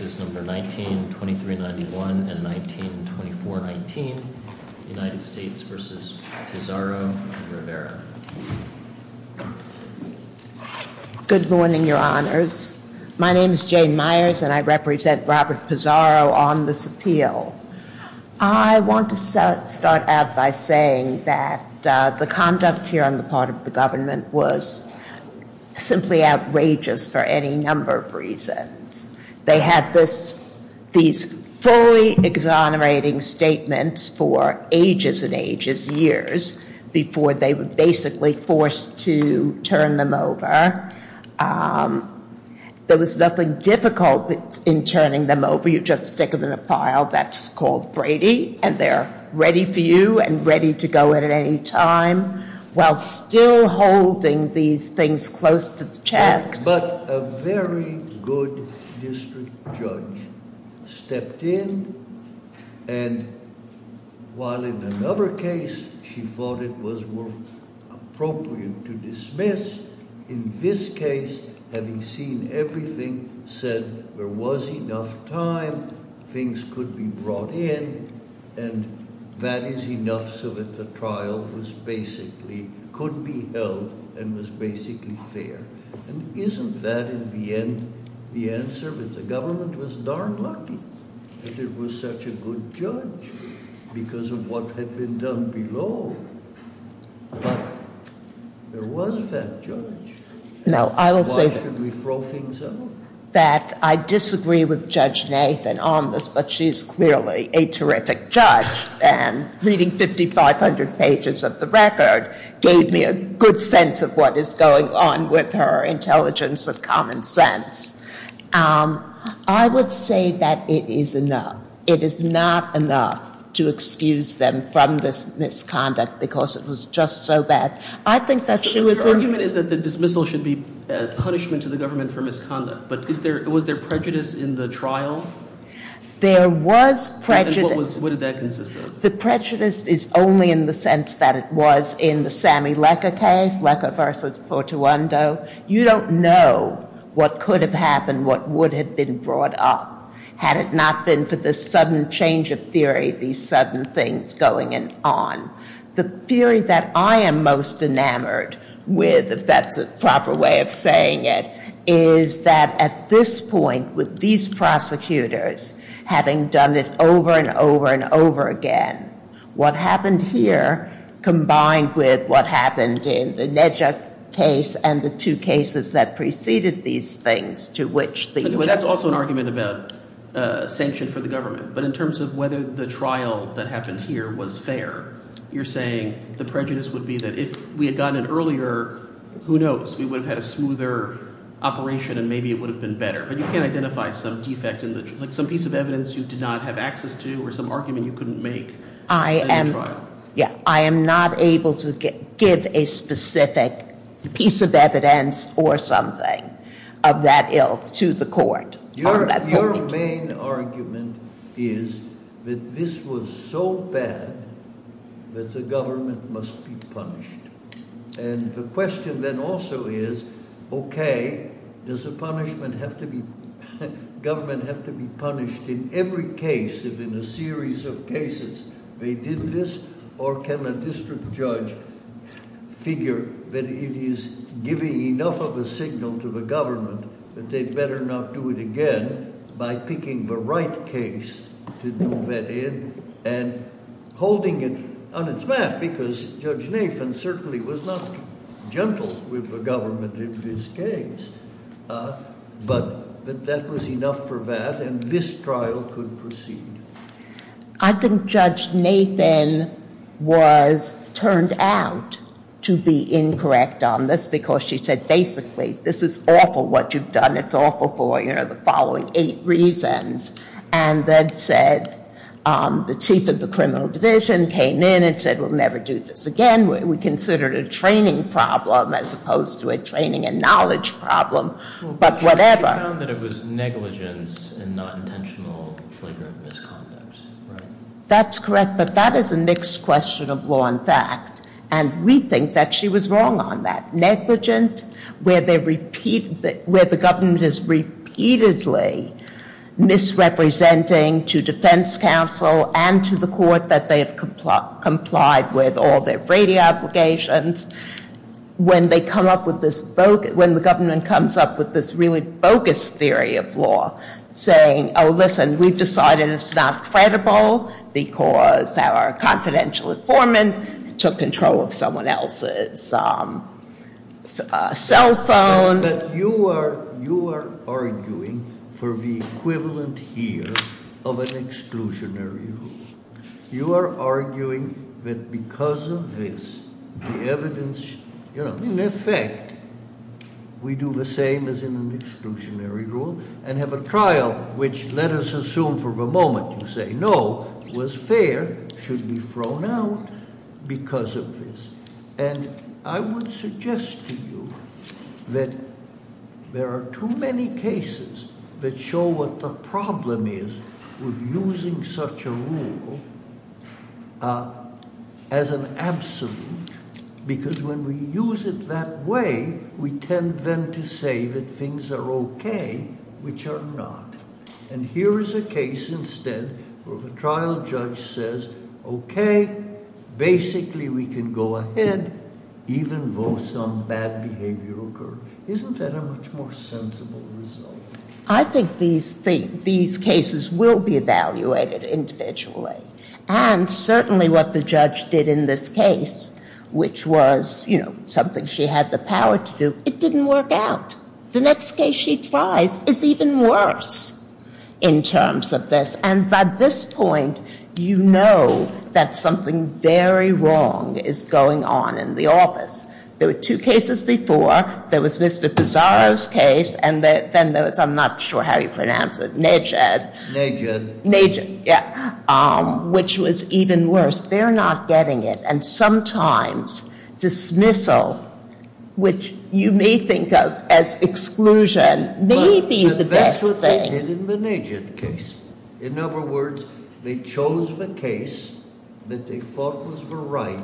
and Rivera. Good morning your honors. My name is Jane Myers and I represent Robert Pizarro on this appeal. I want to start out by saying that the conduct here on the part of the government was simply outrageous for any number of reasons. They had these fully exonerating statements for ages and ages, years, before they were basically forced to turn them over. There was nothing difficult in turning them over. You just stick them in a pile that's called Brady and they're ready for you and ready to go at any time, while still holding these things close to the chest. But a very good district judge stepped in and while in another case she thought it was appropriate to dismiss, in this case having seen everything said there was enough time, things could be brought in and that is enough so that the trial could be held and was basically fair. And isn't that in the end the answer that the government was darn lucky that it was such a good judge because of what had been done below. But there was a fat judge. Why should we throw things out? I disagree with Judge Nathan on this but she's clearly a terrific judge and reading 5,500 pages of the record gave me a good sense of what is going on with her intelligence and common sense. I would say that it is enough. It is not enough to excuse them from this misconduct because it was just so bad. I think that she was in The argument is that the dismissal should be a punishment to the government for misconduct but was there prejudice in the trial? There was prejudice. What did that consist of? The prejudice is only in the sense that it was in the Sammy Lecker case, Lecker versus Portuando. You don't know what could have happened, what would have been brought up had it not been for this sudden change of theory, these sudden things going on. The theory that I am most enamored with, if that's a proper way of saying it, is that at this point with these prosecutors having done it over and over and over again, what happened here combined with what happened in the NEDJA case and the two cases that preceded these things to which the Anyway, that's also an argument about sanction for the government. But in terms of whether the trial that happened here was fair, you're saying the prejudice would be that if we had gotten it earlier, who knows, we would have had a smoother operation and maybe it would have been better. But you can't identify some defect in the, like some piece of evidence you did not have access to or some argument you couldn't make in the trial. Yeah, I am not able to give a specific piece of evidence or something of that ilk to the court on that point. Your main argument is that this was so bad that the government must be punished. And the question then also is, okay, does the punishment have to be, government have to be punished in every case, if in a series of cases they did this, or can a district judge figure that it is giving enough of a signal to the government that they'd better not do it again by picking the right case to do that in and holding it on its back because Judge Nathan certainly was not gentle with the government in this case. But that was enough for that, and this trial could proceed. I think Judge Nathan was turned out to be incorrect on this because she said, basically, this is awful what you've done. It's awful for, you know, the following eight reasons. And then said, the chief of the criminal division came in and said, we'll never do this again. We considered a training problem as opposed to a training and knowledge problem, but whatever. She found that it was negligence and not intentional flagrant misconduct, right? That's correct, but that is a mixed question of law and fact, and we think that she was wrong on that. Negligent, where the government is repeatedly misrepresenting to defense counsel and to the court that they have complied with all their Brady obligations. When the government comes up with this really bogus theory of law saying, listen, we've decided it's not credible because our confidential informant took control of someone else's cell phone. But you are arguing for the equivalent here of an exclusionary rule. You are arguing that because of this, the evidence, in effect, we do the same as in an exclusionary rule and have a trial which, let us assume for the moment you say no, was fair, should be thrown out because of this. And I would suggest to you that there are too many cases that show what the problem is with using such a rule as an absolute, because when we use it that way, we tend then to say that things are okay, which are not. And here is a case instead where the trial judge says, okay, basically we can go ahead. Even votes on bad behavior occur. Isn't that a much more sensible result? I think these cases will be evaluated individually. And certainly what the judge did in this case, which was something she had the power to do, it didn't work out. The next case she tries is even worse in terms of this. And by this point, you know that something very wrong is going on in the office. There were two cases before. There was Mr. Pizarro's case, and then there was, I'm not sure how you pronounce it, Nejad. Nejad. Nejad, yeah, which was even worse. They're not getting it. And sometimes dismissal, which you may think of as exclusion, may be the best thing. But that's what they did in the Nejad case. In other words, they chose the case that they thought was the right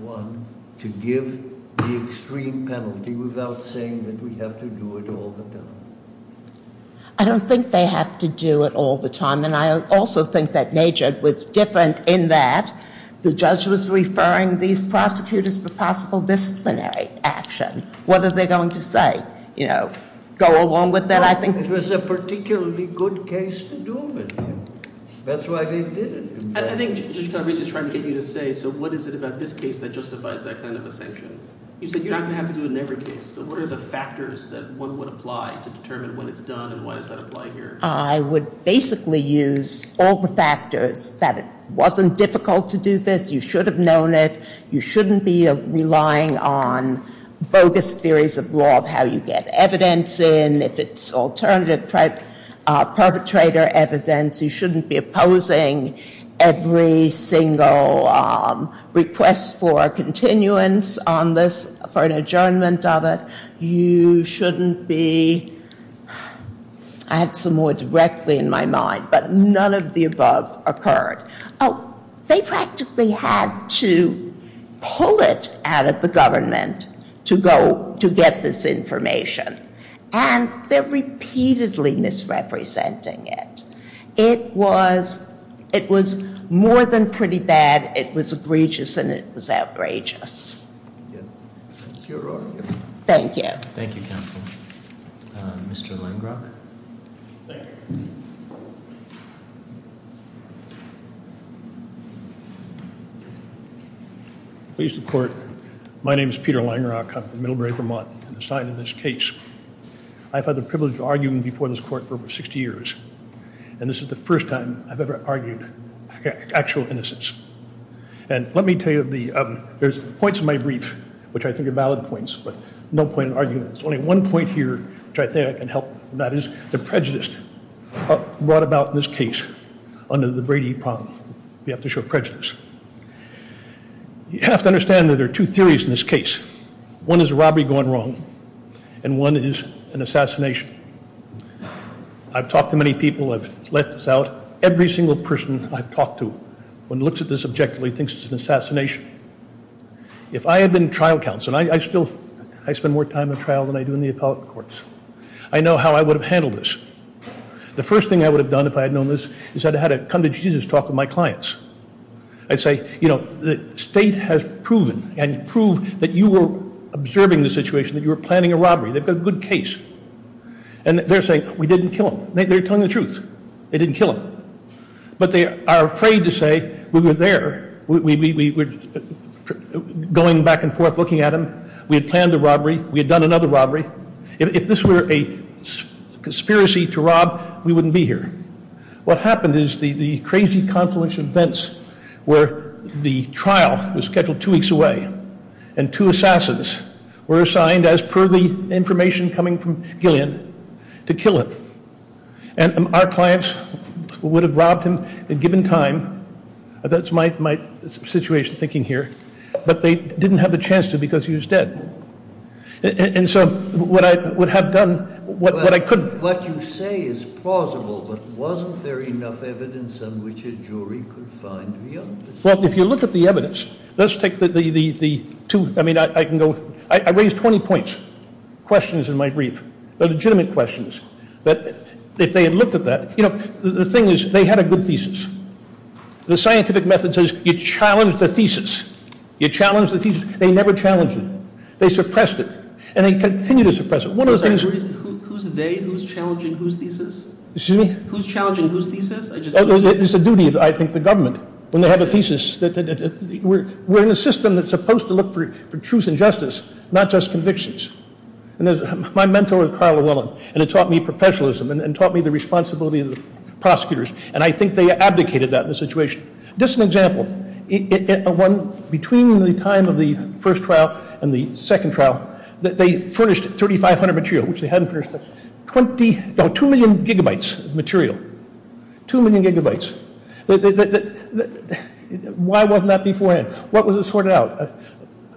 one to give the extreme penalty without saying that we have to do it all the time. I don't think they have to do it all the time. And I also think that Nejad was different in that the judge was referring these prosecutors to possible disciplinary action. What are they going to say? Go along with that, I think. It was a particularly good case to do with him. That's why they did it. I think Judge Calabresi is trying to get you to say, so what is it about this case that justifies that kind of a sanction? You said you're not going to have to do it in every case. So what are the factors that one would apply to determine when it's done and why does that apply here? I would basically use all the factors that it wasn't difficult to do this. You should have known it. You shouldn't be relying on bogus theories of law of how you get evidence in. If it's alternative perpetrator evidence, you shouldn't be opposing every single request for continuance on this, for an adjournment of it. You shouldn't be... I had some more directly in my mind, but none of the above occurred. They practically had to pull it out of the government to get this information, and they're repeatedly misrepresenting it. It was more than pretty bad. It was egregious and it was outrageous. That's your argument. Thank you. Thank you, Counsel. Mr. Langrock. Thank you. Please, the Court. My name is Peter Langrock. I'm from Middlebury, Vermont. I'm assigned to this case. I've had the privilege of arguing before this Court for over 60 years, and this is the first time I've ever argued actual innocence. And let me tell you, there's points in my brief which I think are valid points, but no point in arguing them. There's only one point here which I think I can help, and that is the prejudice brought about in this case under the Brady problem. We have to show prejudice. You have to understand that there are two theories in this case. One is a robbery gone wrong, and one is an assassination. I've talked to many people. I've let this out. Every single person I've talked to, when he looks at this objectively, thinks it's an assassination. If I had been trial counsel, and I still spend more time in trial than I do in the appellate courts, I know how I would have handled this. The first thing I would have done if I had known this is I'd have had a come-to-Jesus talk with my clients. I'd say, you know, the state has proven and proved that you were observing the situation, that you were planning a robbery. They've got a good case. And they're saying, we didn't kill him. They're telling the truth. They didn't kill him. But they are afraid to say, we were there. We were going back and forth looking at him. We had planned the robbery. We had done another robbery. If this were a conspiracy to rob, we wouldn't be here. What happened is the crazy confluence of events where the trial was scheduled two weeks away, and two assassins were assigned, as per the information coming from Gillian, to kill him. And our clients would have robbed him at a given time. That's my situation thinking here. But they didn't have the chance to because he was dead. And so what I would have done, what I could have done. What you say is plausible, but wasn't there enough evidence on which a jury could find real? Well, if you look at the evidence, let's take the two, I mean, I can go, I raised 20 points, questions in my brief. They're legitimate questions. But if they had looked at that, you know, the thing is they had a good thesis. The scientific method says you challenge the thesis. You challenge the thesis. They never challenged it. They suppressed it. And they continue to suppress it. Who's they who's challenging whose thesis? Excuse me? Who's challenging whose thesis? It's the duty of, I think, the government when they have a thesis. We're in a system that's supposed to look for truth and justice, not just convictions. And my mentor is Carla Willen. And it taught me professionalism and taught me the responsibility of the prosecutors. And I think they abdicated that in the situation. Just an example. Between the time of the first trial and the second trial, they furnished 3,500 material, which they hadn't furnished. Two million gigabytes of material. Two million gigabytes. Why wasn't that beforehand? What was it sorted out?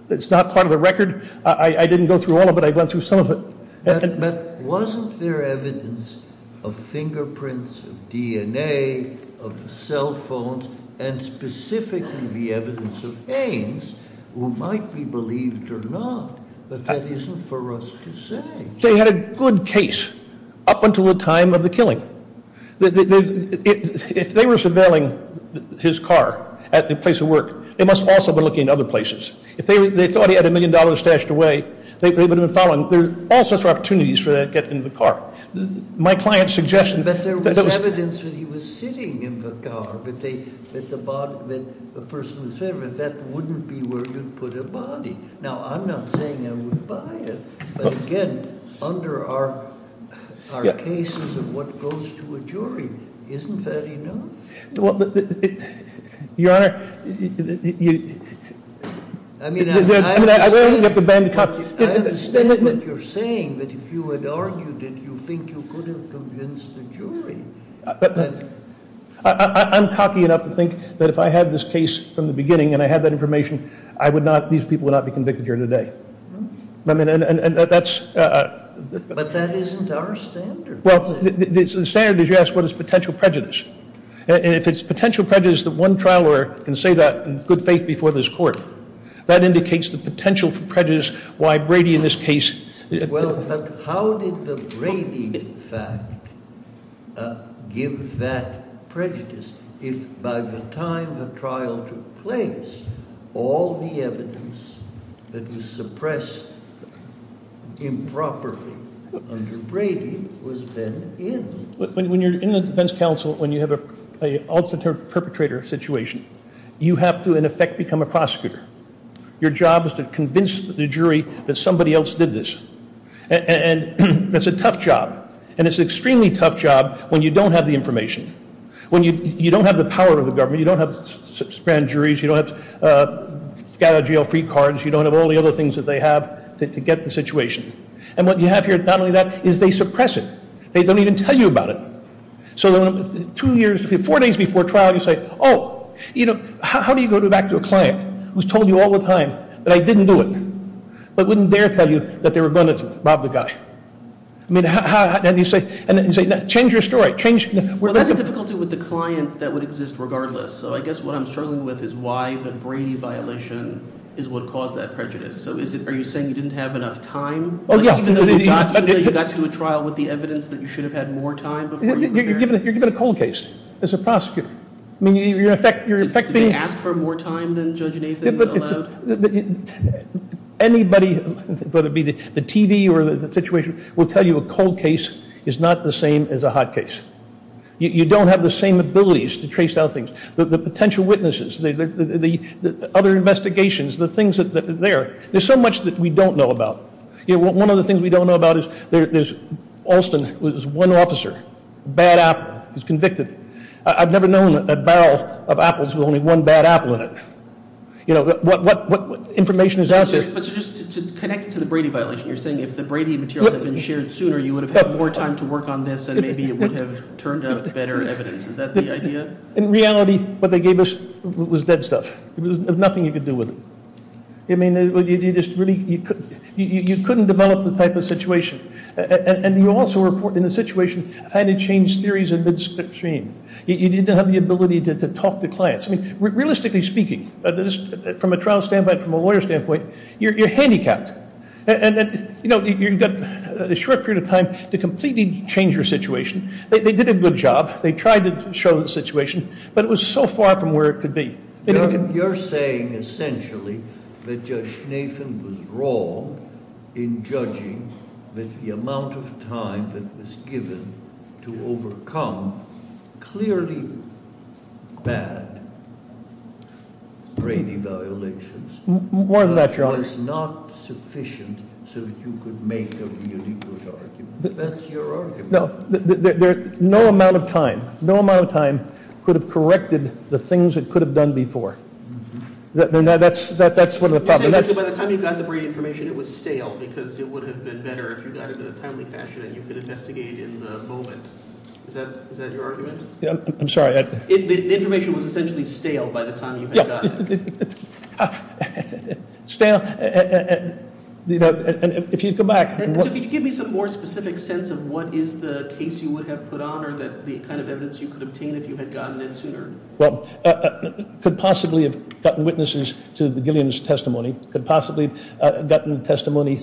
It's not part of the record. I didn't go through all of it. I went through some of it. But wasn't there evidence of fingerprints, of DNA, of cell phones, and specifically the evidence of aims, who might be believed or not, but that isn't for us to say. They had a good case up until the time of the killing. If they were surveilling his car at the place of work, they must also have been looking at other places. If they thought he had a million dollars stashed away, they would have been following him. There are all sorts of opportunities for that to get into the car. My client's suggestion... But there was evidence that he was sitting in the car, that the person was there. But that wouldn't be where you'd put a body. Now, I'm not saying I would buy it. But, again, under our cases of what goes to a jury, isn't that enough? Your Honor, you... I mean, I understand what you're saying, but if you had argued it, you think you could have convinced the jury. I'm cocky enough to think that if I had this case from the beginning and I had that information, these people would not be convicted here today. But that isn't our standard. Well, the standard is you ask what is potential prejudice. And if it's potential prejudice that one trial can say that in good faith before this court, that indicates the potential prejudice why Brady in this case... Well, but how did the Brady fact give that prejudice if, by the time the trial took place, all the evidence that was suppressed improperly under Brady was then in? When you're in the defense counsel, when you have an alternate perpetrator situation, you have to, in effect, become a prosecutor. Your job is to convince the jury that somebody else did this. And that's a tough job. And it's an extremely tough job when you don't have the information. When you don't have the power of the government. You don't have grand juries. You don't have a guy out of jail, free cards. You don't have all the other things that they have to get the situation. And what you have here, not only that, is they suppress it. They don't even tell you about it. Four days before trial, you say, oh, how do you go back to a client who's told you all the time that I didn't do it, but wouldn't dare tell you that they were going to rob the guy? And you say, change your story. Well, there's a difficulty with the client that would exist regardless. So I guess what I'm struggling with is why the Brady violation is what caused that prejudice. So are you saying you didn't have enough time? Even though you got to do a trial with the evidence that you should have had more time? You're given a cold case as a prosecutor. Do they ask for more time than Judge Nathan allowed? Anybody, whether it be the TV or the situation, will tell you a cold case is not the same as a hot case. You don't have the same abilities to trace down things. The potential witnesses, the other investigations, the things that are there, there's so much that we don't know about. One of the things we don't know about is Alston was one officer. Bad apple. He was convicted. I've never known a barrel of apples with only one bad apple in it. What information is out there? But so just to connect it to the Brady violation, you're saying if the Brady material had been shared sooner, you would have had more time to work on this, and maybe it would have turned out better evidence. Is that the idea? In reality, what they gave us was dead stuff. There was nothing you could do with it. I mean, you couldn't develop the type of situation. And you also, in the situation, had to change theories in midstream. You didn't have the ability to talk to clients. I mean, realistically speaking, from a trial standpoint, from a lawyer standpoint, you're handicapped. And you've got a short period of time to completely change your situation. They did a good job. They tried to show the situation, but it was so far from where it could be. You're saying essentially that Judge Nathan was wrong in judging that the amount of time that was given to overcome clearly bad Brady violations- More than that, Your Honor. Was not sufficient so that you could make a really good argument. That's your argument. No amount of time. No amount of time could have corrected the things it could have done before. That's one of the problems. You're saying that by the time you got the Brady information, it was stale because it would have been better if you got it in a timely fashion and you could investigate in the moment. Is that your argument? I'm sorry. The information was essentially stale by the time you got it. Stale. If you go back- Could you give me some more specific sense of what is the case you would have put on or the kind of evidence you could obtain if you had gotten it sooner? Could possibly have gotten witnesses to the Gilliam's testimony. Could possibly have gotten testimony-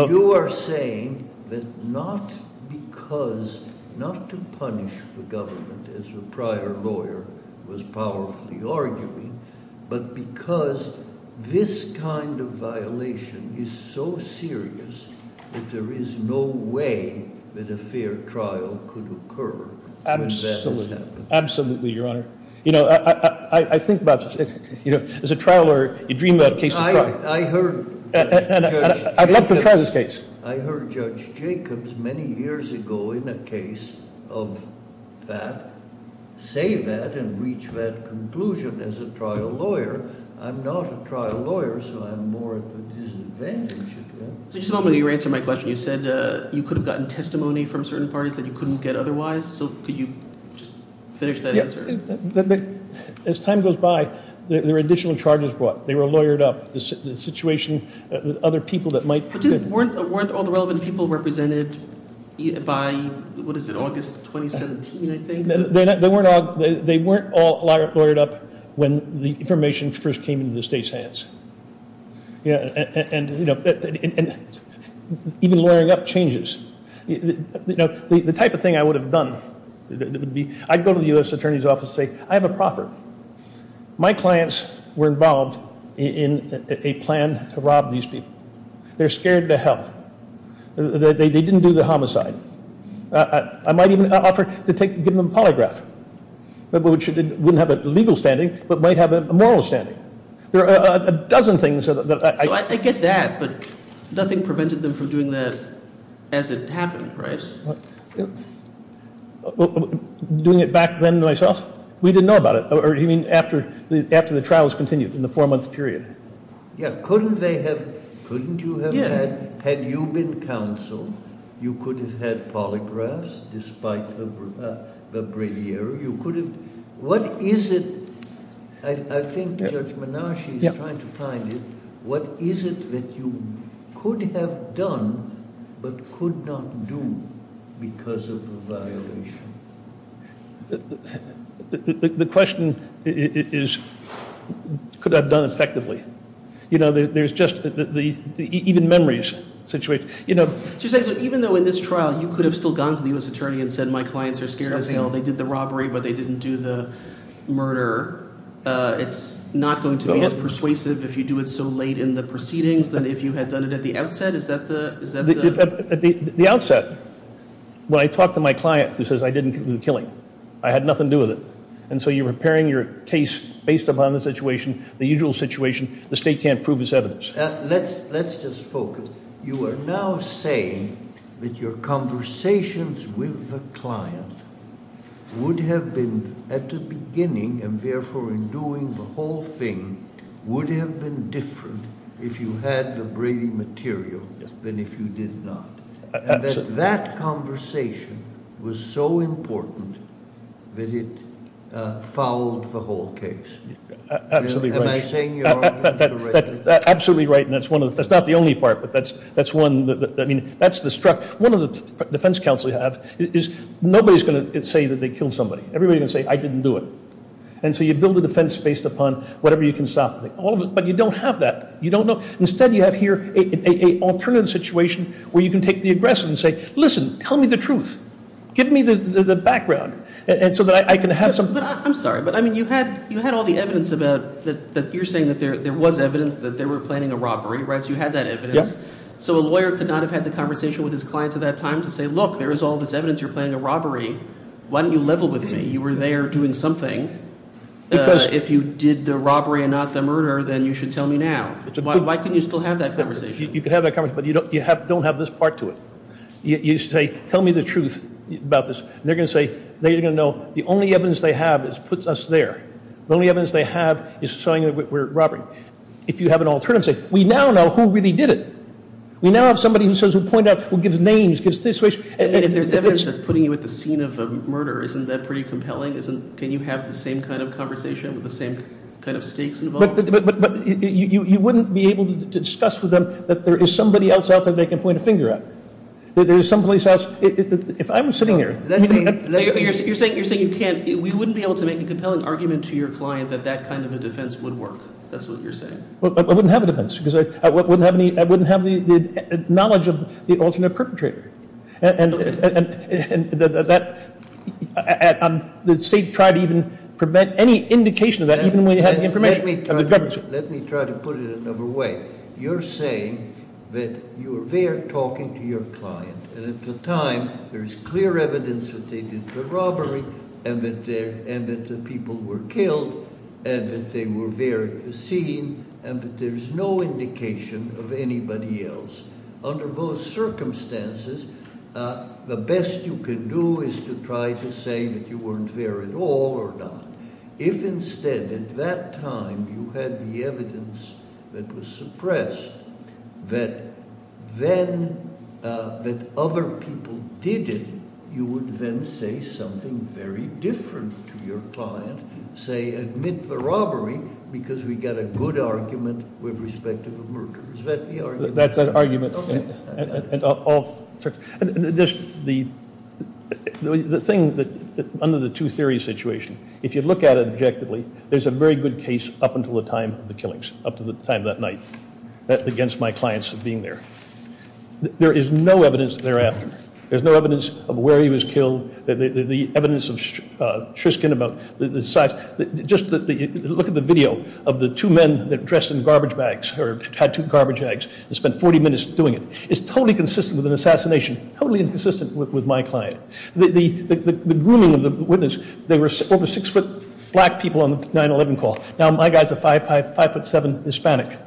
You are saying that not because, not to punish the government as the prior lawyer was powerfully arguing, but because this kind of violation is so serious that there is no way that a fair trial could occur. Absolutely, Your Honor. You know, I think about, you know, as a trial lawyer, you dream about cases- I'd love to try this case. I heard Judge Jacobs many years ago in a case of that, say that and reach that conclusion as a trial lawyer. I'm not a trial lawyer, so I'm more at a disadvantage. Just a moment. You answered my question. You said you could have gotten testimony from certain parties that you couldn't get otherwise, so could you just finish that answer? As time goes by, there are additional charges brought. They were lawyered up. The situation with other people that might- Weren't all the relevant people represented by, what is it, August 2017, I think? They weren't all lawyered up when the information first came into the state's hands. And, you know, even lawyering up changes. You know, the type of thing I would have done would be I'd go to the U.S. Attorney's Office and say, I have a proffer. My clients were involved in a plan to rob these people. They're scared to hell. They didn't do the homicide. I might even offer to give them a polygraph, which wouldn't have a legal standing but might have a moral standing. There are a dozen things that I- But nothing prevented them from doing that as it happened, right? Doing it back then myself? We didn't know about it. You mean after the trial was continued in the four-month period? Yeah. Couldn't they have- Couldn't you have had- Yeah. Had you been counsel, you could have had polygraphs despite the bravado. You could have- What is it- I think Judge Menashe is trying to find it. What is it that you could have done but could not do because of a violation? The question is, could I have done it effectively? You know, there's just- even memories. You know- Even though in this trial you could have still gone to the U.S. Attorney and said, my clients are scared to hell. It's not going to be as persuasive if you do it so late in the proceedings than if you had done it at the outset? Is that the- At the outset, when I talk to my client who says, I didn't do the killing, I had nothing to do with it, and so you're repairing your case based upon the situation, the usual situation, the state can't prove its evidence. Let's just focus. You are now saying that your conversations with the client would have been, at the beginning, and therefore in doing the whole thing, would have been different if you had the Brady material than if you did not. Absolutely. And that that conversation was so important that it fouled the whole case. Absolutely right. Am I saying your argument correctly? Absolutely right. And that's one of the- that's not the only part, but that's one- I mean, that's the- one of the defense counsel you have is nobody's going to say that they killed somebody. Everybody's going to say, I didn't do it. And so you build a defense based upon whatever you can stop. But you don't have that. You don't know. Instead, you have here an alternative situation where you can take the aggressor and say, listen, tell me the truth. Give me the background. And so that I can have some- I'm sorry, but, I mean, you had all the evidence that you're saying that there was evidence that they were planning a robbery, right? So you had that evidence. Yep. So a lawyer could not have had the conversation with his client at that time to say, look, there is all this evidence you're planning a robbery. Why don't you level with me? You were there doing something. Because- If you did the robbery and not the murder, then you should tell me now. Why couldn't you still have that conversation? You could have that conversation, but you don't have this part to it. You say, tell me the truth about this. And they're going to say, they're going to know the only evidence they have puts us there. The only evidence they have is showing that we're robbing. If you have an alternative, say, we now know who really did it. We now have somebody who says, who pointed out, who gives names, gives this, which- And if there's evidence that's putting you at the scene of a murder, isn't that pretty compelling? Can you have the same kind of conversation with the same kind of stakes involved? But you wouldn't be able to discuss with them that there is somebody else out there they can point a finger at. There is some place else. If I'm sitting here- You're saying you can't. We wouldn't be able to make a compelling argument to your client that that kind of a defense would work. That's what you're saying. I wouldn't have a defense because I wouldn't have the knowledge of the alternate perpetrator. And the state tried to even prevent any indication of that even when they had the information. Let me try to put it another way. You're saying that you were there talking to your client, and at the time there is clear evidence that they did the robbery, and that the people were killed, and that they were there at the scene, and that there's no indication of anybody else. Under those circumstances, the best you can do is to try to say that you weren't there at all or not. If instead at that time you had the evidence that was suppressed, that other people did it, you would then say something very different to your client, say, admit the robbery because we got a good argument with respect to the murderers. Is that the argument? That's an argument. Okay. There's a very good case up until the time of the killings, up to the time that night against my clients of being there. There is no evidence thereafter. There's no evidence of where he was killed, the evidence of Triskin about the size. Just look at the video of the two men that dressed in garbage bags or tattooed garbage bags and spent 40 minutes doing it. It's totally consistent with an assassination, totally inconsistent with my client. The grooming of the witness, they were over six-foot black people on the 9-11 call. Now my guy's a five-foot-seven Hispanic.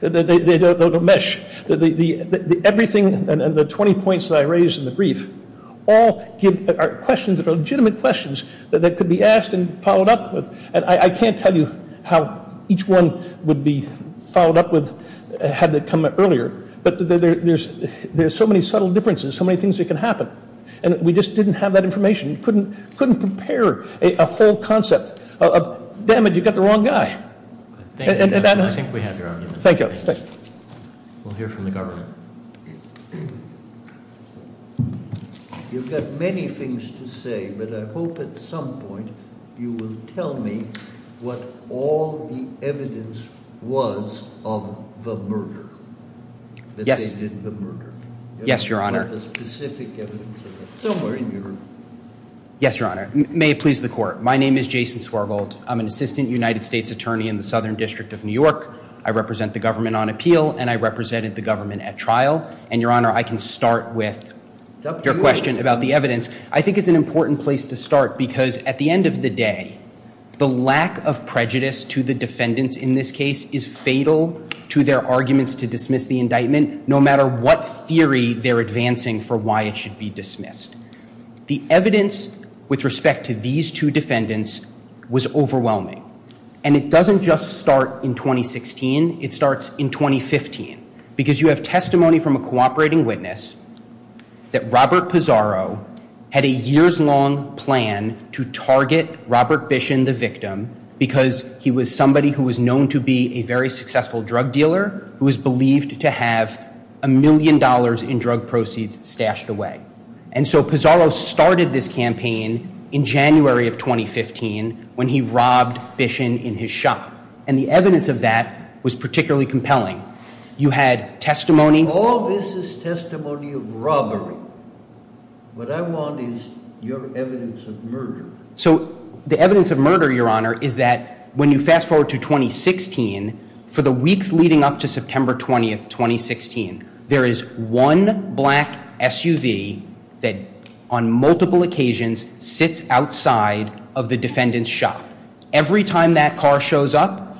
They don't mesh. Everything, and the 20 points that I raised in the brief, all give questions that are legitimate questions that could be asked and followed up with. I can't tell you how each one would be followed up with had it come earlier, but there's so many subtle differences, so many things that can happen. And we just didn't have that information. We couldn't prepare a whole concept of, damn it, you've got the wrong guy. Thank you. I think we have your argument. Thank you. We'll hear from the government. Your Honor, you've got many things to say, but I hope at some point you will tell me what all the evidence was of the murder, that they did the murder. Yes, Your Honor. What the specific evidence of it. Somewhere in Europe. Yes, Your Honor. May it please the court. My name is Jason Swergold. I'm an assistant United States attorney in the Southern District of New York. I represent the government on appeal, and I represented the government at trial. And, Your Honor, I can start with your question about the evidence. I think it's an important place to start because at the end of the day, the lack of prejudice to the defendants in this case is fatal to their arguments to dismiss the indictment, no matter what theory they're advancing for why it should be dismissed. The evidence with respect to these two defendants was overwhelming. And it doesn't just start in 2016. It starts in 2015 because you have testimony from a cooperating witness that Robert Pizarro had a years-long plan to target Robert Bishon, the victim, because he was somebody who was known to be a very successful drug dealer who was believed to have a million dollars in drug proceeds stashed away. And so Pizarro started this campaign in January of 2015 when he robbed Bishon in his shop. And the evidence of that was particularly compelling. You had testimony. All this is testimony of robbery. What I want is your evidence of murder. So the evidence of murder, Your Honor, is that when you fast forward to 2016, for the weeks leading up to September 20th, 2016, there is one black SUV that on multiple occasions sits outside of the defendant's shop. Every time that car shows up,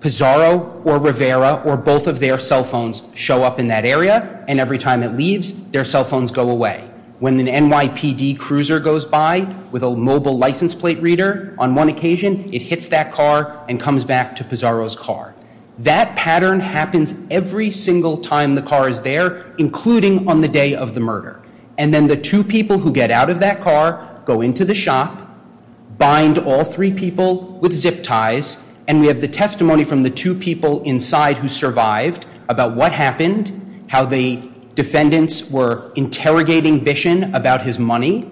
Pizarro or Rivera or both of their cell phones show up in that area, and every time it leaves, their cell phones go away. When an NYPD cruiser goes by with a mobile license plate reader on one occasion, it hits that car and comes back to Pizarro's car. That pattern happens every single time the car is there, including on the day of the murder. And then the two people who get out of that car go into the shop, bind all three people with zip ties, and we have the testimony from the two people inside who survived about what happened, how the defendants were interrogating Bishon about his money,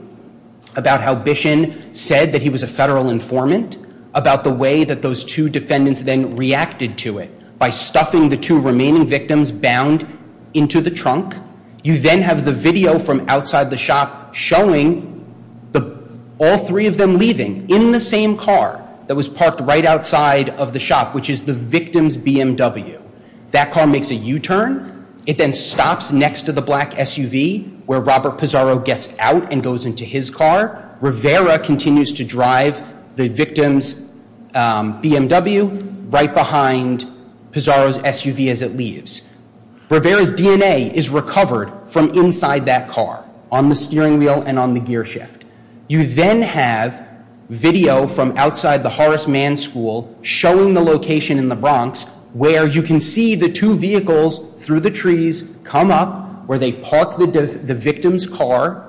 about how Bishon said that he was a federal informant, about the way that those two defendants then reacted to it by stuffing the two remaining victims bound into the trunk. You then have the video from outside the shop showing all three of them leaving in the same car that was parked right outside of the shop, which is the victim's BMW. That car makes a U-turn. It then stops next to the black SUV where Robert Pizarro gets out and goes into his car. Rivera continues to drive the victim's BMW right behind Pizarro's SUV as it leaves. Rivera's DNA is recovered from inside that car on the steering wheel and on the gear shift. You then have video from outside the Horace Mann School showing the location in the Bronx where you can see the two vehicles through the trees come up, where they park the victim's car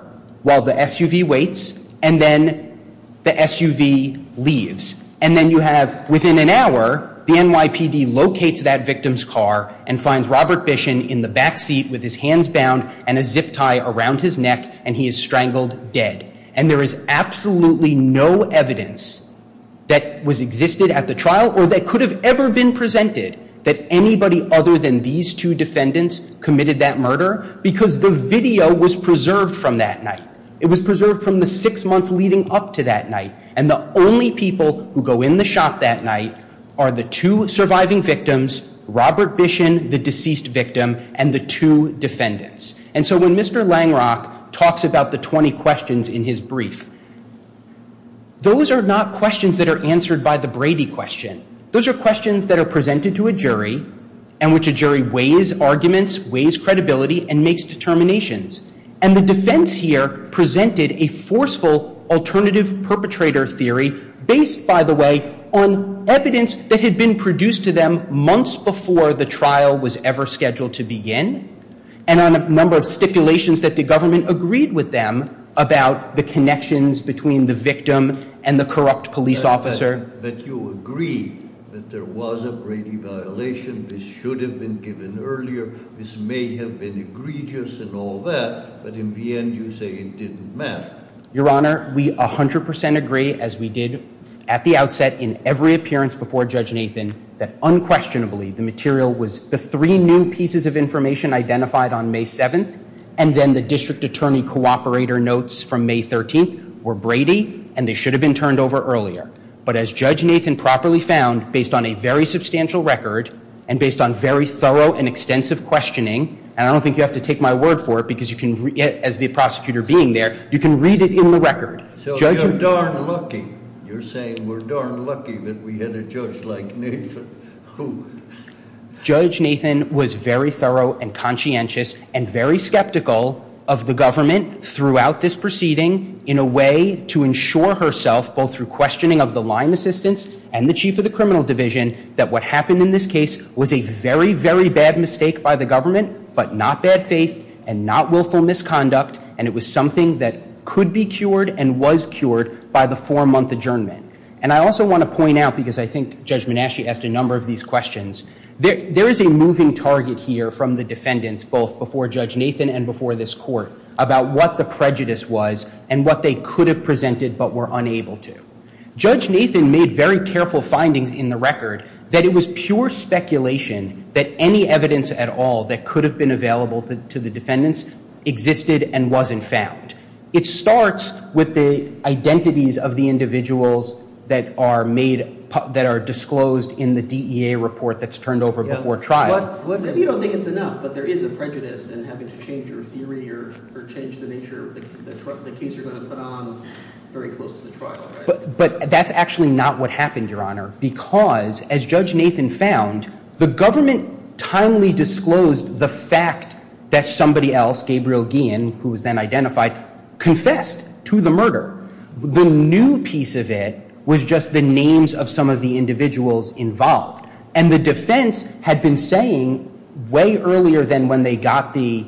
while the SUV waits, and then the SUV leaves. And then you have, within an hour, the NYPD locates that victim's car and finds Robert Bishon in the back seat with his hands bound and a zip tie around his neck, and he is strangled dead. And there is absolutely no evidence that existed at the trial or that could have ever been presented that anybody other than these two defendants committed that murder because the video was preserved from that night. It was preserved from the six months leading up to that night. And the only people who go in the shop that night are the two surviving victims, Robert Bishon, the deceased victim, and the two defendants. And so when Mr. Langrock talks about the 20 questions in his brief, those are not questions that are answered by the Brady question. Those are questions that are presented to a jury in which a jury weighs arguments, weighs credibility, and makes determinations. And the defense here presented a forceful alternative perpetrator theory based, by the way, on evidence that had been produced to them months before the trial was ever scheduled to begin and on a number of stipulations that the government agreed with them about the connections between the victim and the corrupt police officer. But you agree that there was a Brady violation. This should have been given earlier. This may have been egregious and all that. But in the end, you say it didn't matter. Your Honor, we 100 percent agree, as we did at the outset in every appearance before Judge Nathan, that unquestionably the material was the three new pieces of information identified on May 7th and then the district attorney cooperator notes from May 13th were Brady, and they should have been turned over earlier. But as Judge Nathan properly found, based on a very substantial record and based on very thorough and extensive questioning, and I don't think you have to take my word for it because as the prosecutor being there, you can read it in the record. So you're darn lucky. You're saying we're darn lucky that we had a judge like Nathan. Who? Judge Nathan was very thorough and conscientious and very skeptical of the government throughout this proceeding in a way to ensure herself, both through questioning of the line assistants and the chief of the criminal division, that what happened in this case was a very, very bad mistake by the government, but not bad faith and not willful misconduct, and it was something that could be cured and was cured by the four-month adjournment. And I also want to point out, because I think Judge Manasci asked a number of these questions, there is a moving target here from the defendants, both before Judge Nathan and before this court, about what the prejudice was and what they could have presented but were unable to. Judge Nathan made very careful findings in the record that it was pure speculation that any evidence at all that could have been available to the defendants existed and wasn't found. It starts with the identities of the individuals that are disclosed in the DEA report that's turned over before trial. Maybe you don't think it's enough, but there is a prejudice in having to change your theory or change the nature of the case you're going to put on very close to the trial, right? But that's actually not what happened, Your Honor, because, as Judge Nathan found, the government timely disclosed the fact that somebody else, Gabriel Guillen, who was then identified, confessed to the murder. The new piece of it was just the names of some of the individuals involved. And the defense had been saying way earlier than when they got the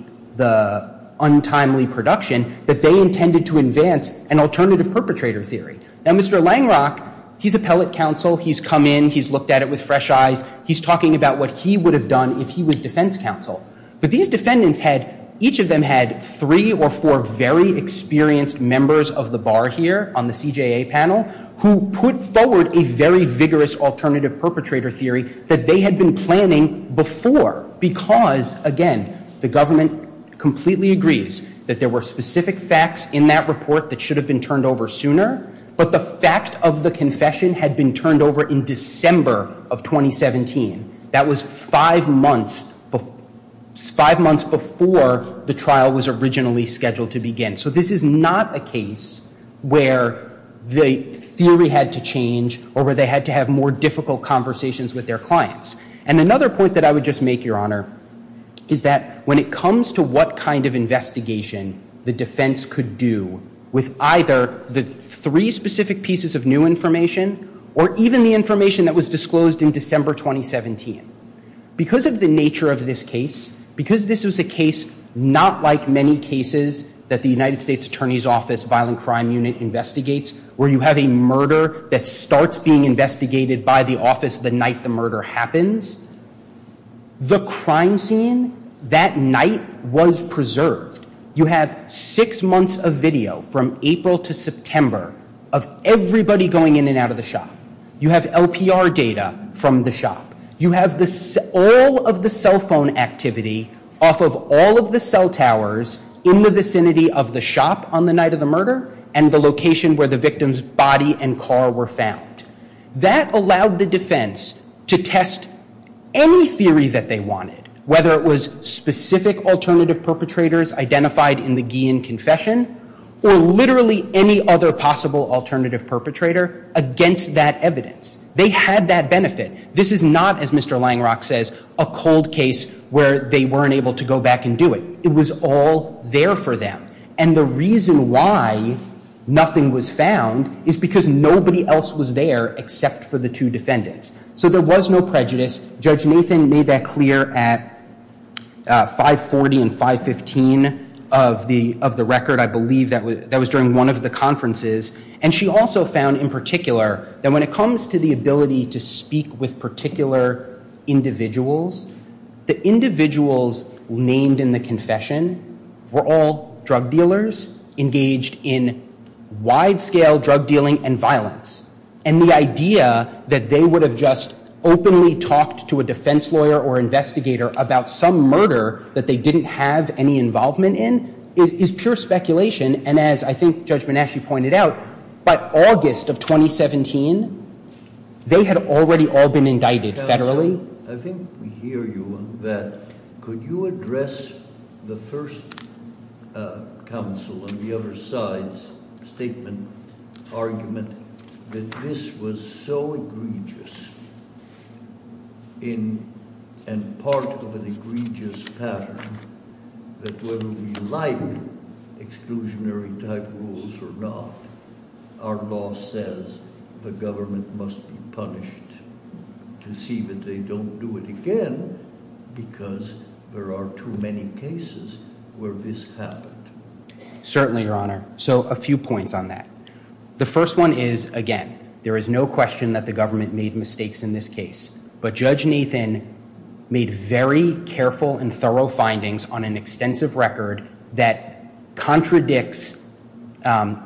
untimely production that they intended to advance an alternative perpetrator theory. Now, Mr. Langrock, he's appellate counsel. He's come in. He's looked at it with fresh eyes. He's talking about what he would have done if he was defense counsel. But these defendants had, each of them had three or four very experienced members of the bar here on the CJA panel who put forward a very vigorous alternative perpetrator theory that they had been planning before because, again, the government completely agrees that there were specific facts in that report that should have been turned over sooner, but the fact of the confession had been turned over in December of 2017. That was five months before the trial was originally scheduled to begin. So this is not a case where the theory had to change or where they had to have more difficult conversations with their clients. And another point that I would just make, Your Honor, is that when it comes to what kind of investigation the defense could do with either the three specific pieces of new information or even the information that was disclosed in December 2017, because of the nature of this case, because this was a case not like many cases that the United States Attorney's Office Violent Crime Unit investigates where you have a murder that starts being investigated by the office the night the murder happens, the crime scene that night was preserved. You have six months of video from April to September of everybody going in and out of the shop. You have LPR data from the shop. You have all of the cell phone activity off of all of the cell towers in the vicinity of the shop on the night of the murder and the location where the victim's body and car were found. That allowed the defense to test any theory that they wanted, whether it was specific alternative perpetrators identified in the Guillen confession or literally any other possible alternative perpetrator against that evidence. They had that benefit. This is not, as Mr. Langrock says, a cold case where they weren't able to go back and do it. It was all there for them. And the reason why nothing was found is because nobody else was there except for the two defendants. So there was no prejudice. Judge Nathan made that clear at 540 and 515 of the record, I believe. That was during one of the conferences. And she also found in particular that when it comes to the ability to speak with particular individuals, the individuals named in the confession were all drug dealers engaged in wide-scale drug dealing and violence. And the idea that they would have just openly talked to a defense lawyer or investigator about some murder that they didn't have any involvement in is pure speculation. And as I think Judge Monashie pointed out, by August of 2017, they had already all been indicted federally. Counsel, I think we hear you on that. Could you address the first counsel on the other side's statement, argument, that this was so egregious and part of an egregious pattern that whether we like exclusionary-type rules or not, our law says the government must be punished to see that they don't do it again because there are too many cases where this happened? Certainly, Your Honor. So a few points on that. The first one is, again, there is no question that the government made mistakes in this case. But Judge Nathan made very careful and thorough findings on an extensive record that contradicts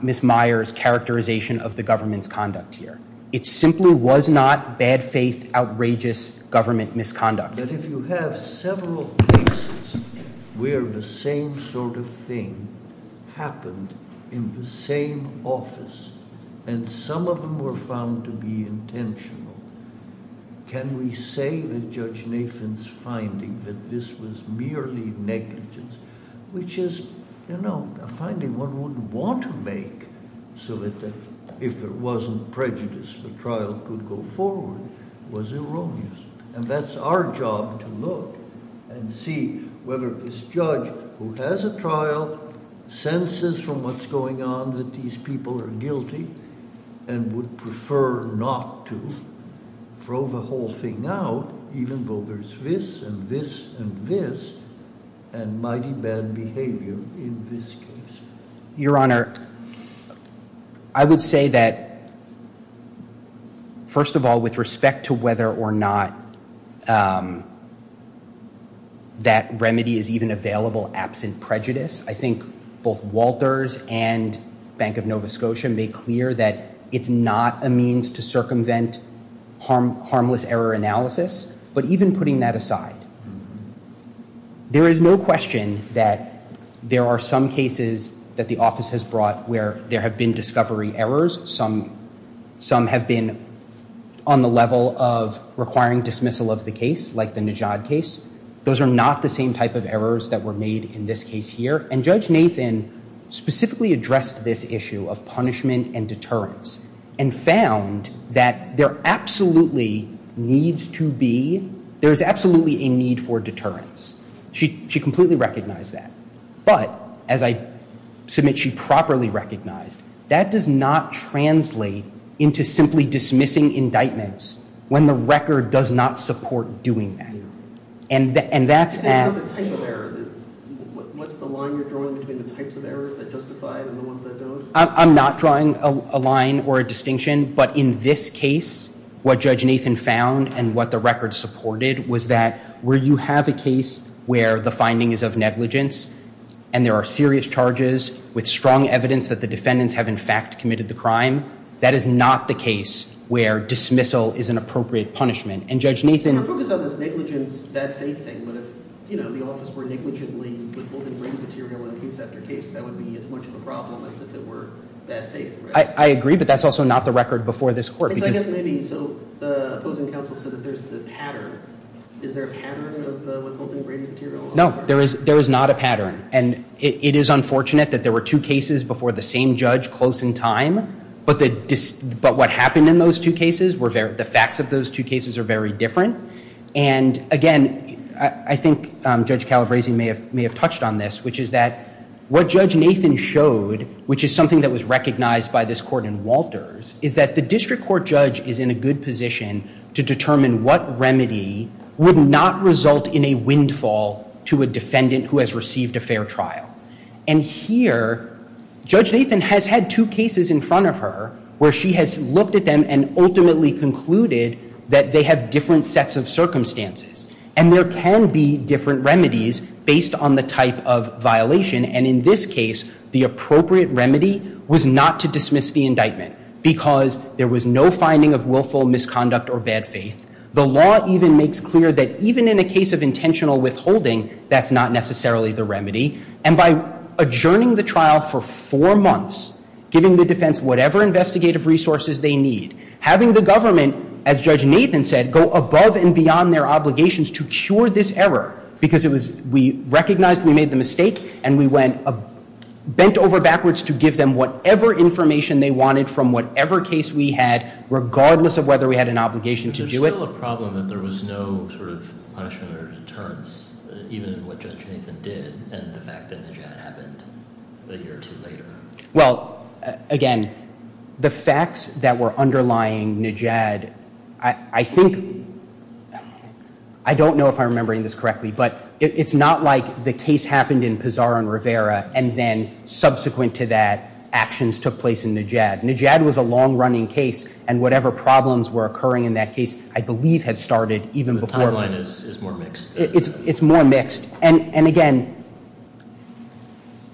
Ms. Meyer's characterization of the government's conduct here. It simply was not bad faith, outrageous government misconduct. But if you have several cases where the same sort of thing happened in the same office and some of them were found to be intentional, can we say that Judge Nathan's finding that this was merely negligence, which is a finding one wouldn't want to make so that if there wasn't prejudice, the trial could go forward, was erroneous? And that's our job to look and see whether this judge who has a trial senses from what's going on that these people are guilty and would prefer not to throw the whole thing out, even though there's this and this and this and mighty bad behavior in this case. Your Honor, I would say that, first of all, with respect to whether or not that remedy is even available absent prejudice, I think both Walters and Bank of Nova Scotia made clear that it's not a means to circumvent harmless error analysis. But even putting that aside, there is no question that there are some cases that the office has brought where there have been discovery errors. Some have been on the level of requiring dismissal of the case, like the Najad case. Those are not the same type of errors that were made in this case here. And Judge Nathan specifically addressed this issue of punishment and deterrence and found that there absolutely needs to be, there is absolutely a need for deterrence. She completely recognized that. But, as I submit, she properly recognized that does not translate into simply dismissing indictments when the record does not support doing that. And that's at... What's the line you're drawing between the types of errors that justify it and the ones that don't? I'm not drawing a line or a distinction. But in this case, what Judge Nathan found and what the record supported was that where you have a case where the finding is of negligence and there are serious charges with strong evidence that the defendants have in fact committed the crime, that is not the case where dismissal is an appropriate punishment. And Judge Nathan... Her focus on this negligence, that faith thing. But if, you know, the office were negligently withholding written material in case after case, that would be as much of a problem as if it were that faith, right? I agree, but that's also not the record before this court. So I guess maybe... So the opposing counsel said that there's the pattern. Is there a pattern of the withholding written material? No, there is not a pattern. And it is unfortunate that there were two cases before the same judge close in time, but what happened in those two cases, the facts of those two cases are very different. And, again, I think Judge Calabresi may have touched on this, which is that what Judge Nathan showed, which is something that was recognized by this court in Walters, is that the district court judge is in a good position to determine what remedy would not result in a windfall to a defendant who has received a fair trial. And here Judge Nathan has had two cases in front of her where she has looked at them and ultimately concluded that they have different sets of circumstances. And there can be different remedies based on the type of violation. And in this case, the appropriate remedy was not to dismiss the indictment because there was no finding of willful misconduct or bad faith. The law even makes clear that even in a case of intentional withholding, that's not necessarily the remedy. And by adjourning the trial for four months, giving the defense whatever investigative resources they need, having the government, as Judge Nathan said, go above and beyond their obligations to cure this error because we recognized we made the mistake and we went bent over backwards to give them whatever information they wanted from whatever case we had regardless of whether we had an obligation to do it. There's still a problem that there was no sort of punishment or deterrence, even in what Judge Nathan did, and the fact that Najad happened a year or two later. Well, again, the facts that were underlying Najad, I think, I don't know if I'm remembering this correctly, but it's not like the case happened in Pizarro and Rivera and then subsequent to that, actions took place in Najad. Najad was a long-running case, and whatever problems were occurring in that case, I believe had started even before. The timeline is more mixed. It's more mixed. And again,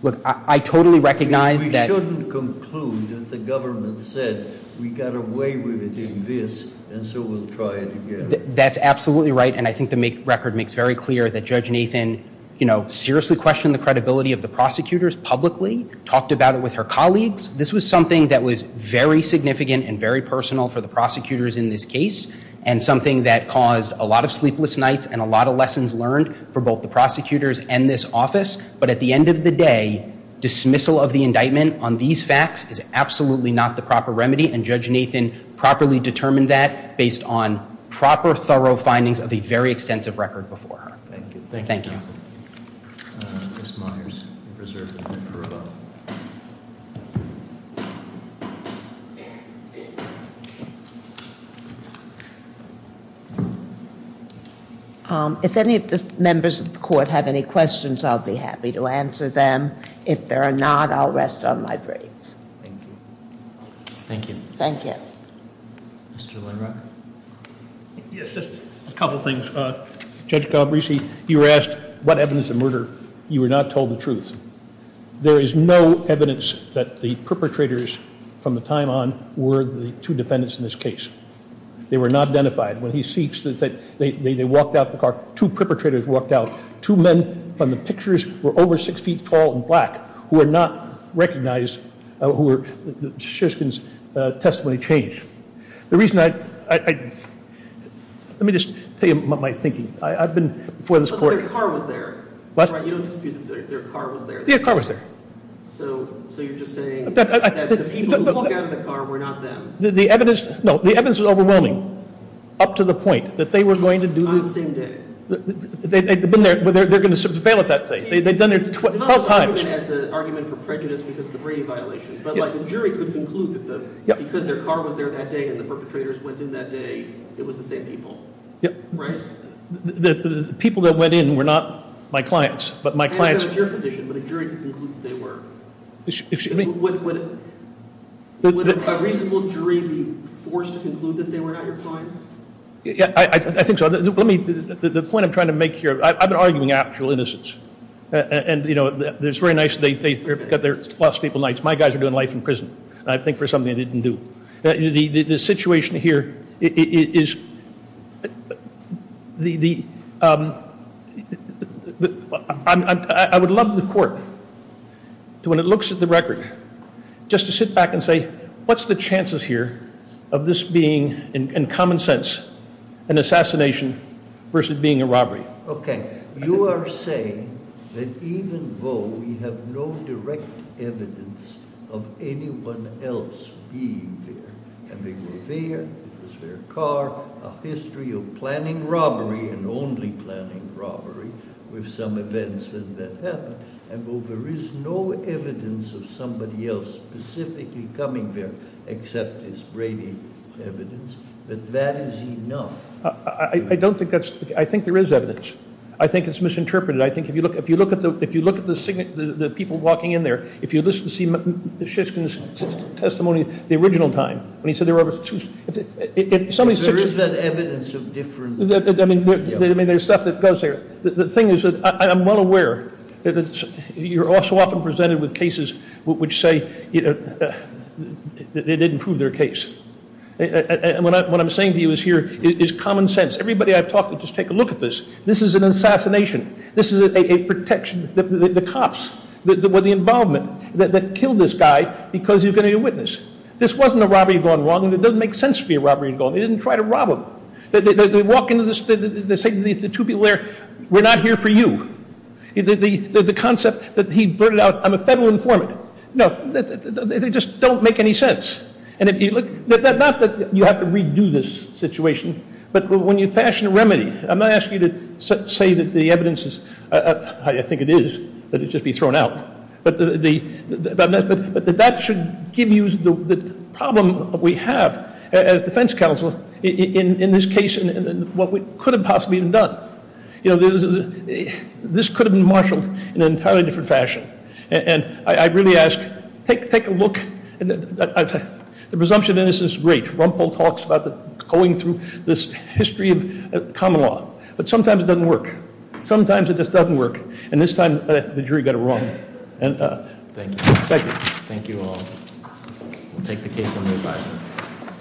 look, I totally recognize that. We shouldn't conclude that the government said we got away with it in this, and so we'll try it again. That's absolutely right, and I think the record makes very clear that Judge Nathan, you know, seriously questioned the credibility of the prosecutors publicly, talked about it with her colleagues. This was something that was very significant and very personal for the prosecutors in this case and something that caused a lot of sleepless nights and a lot of lessons learned for both the prosecutors and this office. But at the end of the day, dismissal of the indictment on these facts is absolutely not the proper remedy, and Judge Nathan properly determined that based on proper, thorough findings of a very extensive record before her. Thank you. If any of the members of the Court have any questions, I'll be happy to answer them. If there are not, I'll rest on my grave. Thank you. Thank you. Thank you. Mr. Lindrock. Yes, just a couple things. Judge Galbraith, you were asked what evidence of murder. You were not told the truth. There is no evidence that the perpetrators from the time on were the two defendants in this case. They were not identified. When he speaks, they walked out of the car. Two perpetrators walked out. Two men from the pictures were over six feet tall in black who were not recognized, who were Shishkin's testimony changed. The reason I, let me just tell you my thinking. I've been before this Court. So their car was there. What? You don't dispute that their car was there. Their car was there. So you're just saying that the people who walked out of the car were not them. The evidence, no, the evidence is overwhelming, up to the point that they were going to do this. On the same day. They've been there. They're going to fail at that thing. They've done it 12 times. As an argument for prejudice because of the Brady violation. But, like, a jury could conclude that because their car was there that day and the perpetrators went in that day, it was the same people. Yep. Right? The people that went in were not my clients, but my clients. I understand that's your position, but a jury could conclude that they were. Excuse me? Would a reasonable jury be forced to conclude that they were not your clients? Yeah, I think so. The point I'm trying to make here, I've been arguing actual innocence. And, you know, it's very nice that they've got their lost people nights. My guys are doing life in prison. I think for something they didn't do. The situation here is the – I would love the court to, when it looks at the record, just to sit back and say, what's the chances here of this being, in common sense, an assassination versus being a robbery? Okay. You are saying that even though we have no direct evidence of anyone else being there. And they were there, it was their car. A history of planning robbery and only planning robbery with some events that happened. And though there is no evidence of somebody else specifically coming there, except as brainy evidence, that that is enough. I don't think that's – I think there is evidence. I think it's misinterpreted. I think if you look at the people walking in there, if you listen to Shishkin's testimony the original time, when he said there were two – There is that evidence of difference. I mean, there's stuff that goes there. The thing is that I'm well aware that you're also often presented with cases which say they didn't prove their case. And what I'm saying to you here is common sense. Everybody I've talked to, just take a look at this. This is an assassination. This is a protection. The cops were the involvement that killed this guy because he was going to be a witness. This wasn't a robbery gone wrong. It doesn't make sense to be a robbery gone wrong. They didn't try to rob him. They walk into this – they say to the two people there, we're not here for you. The concept that he blurted out, I'm a federal informant. No, they just don't make any sense. And if you look – not that you have to redo this situation, but when you fashion a remedy, I'm not asking you to say that the evidence is – I think it is, that it should be thrown out. But that should give you the problem we have as defense counsel in this case and what could have possibly been done. This could have been marshaled in an entirely different fashion. And I really ask, take a look. The presumption of innocence is great. Rumpel talks about going through this history of common law. But sometimes it doesn't work. Sometimes it just doesn't work. And this time the jury got it wrong. Thank you. Thank you. Thank you all. We'll take the case under advisement.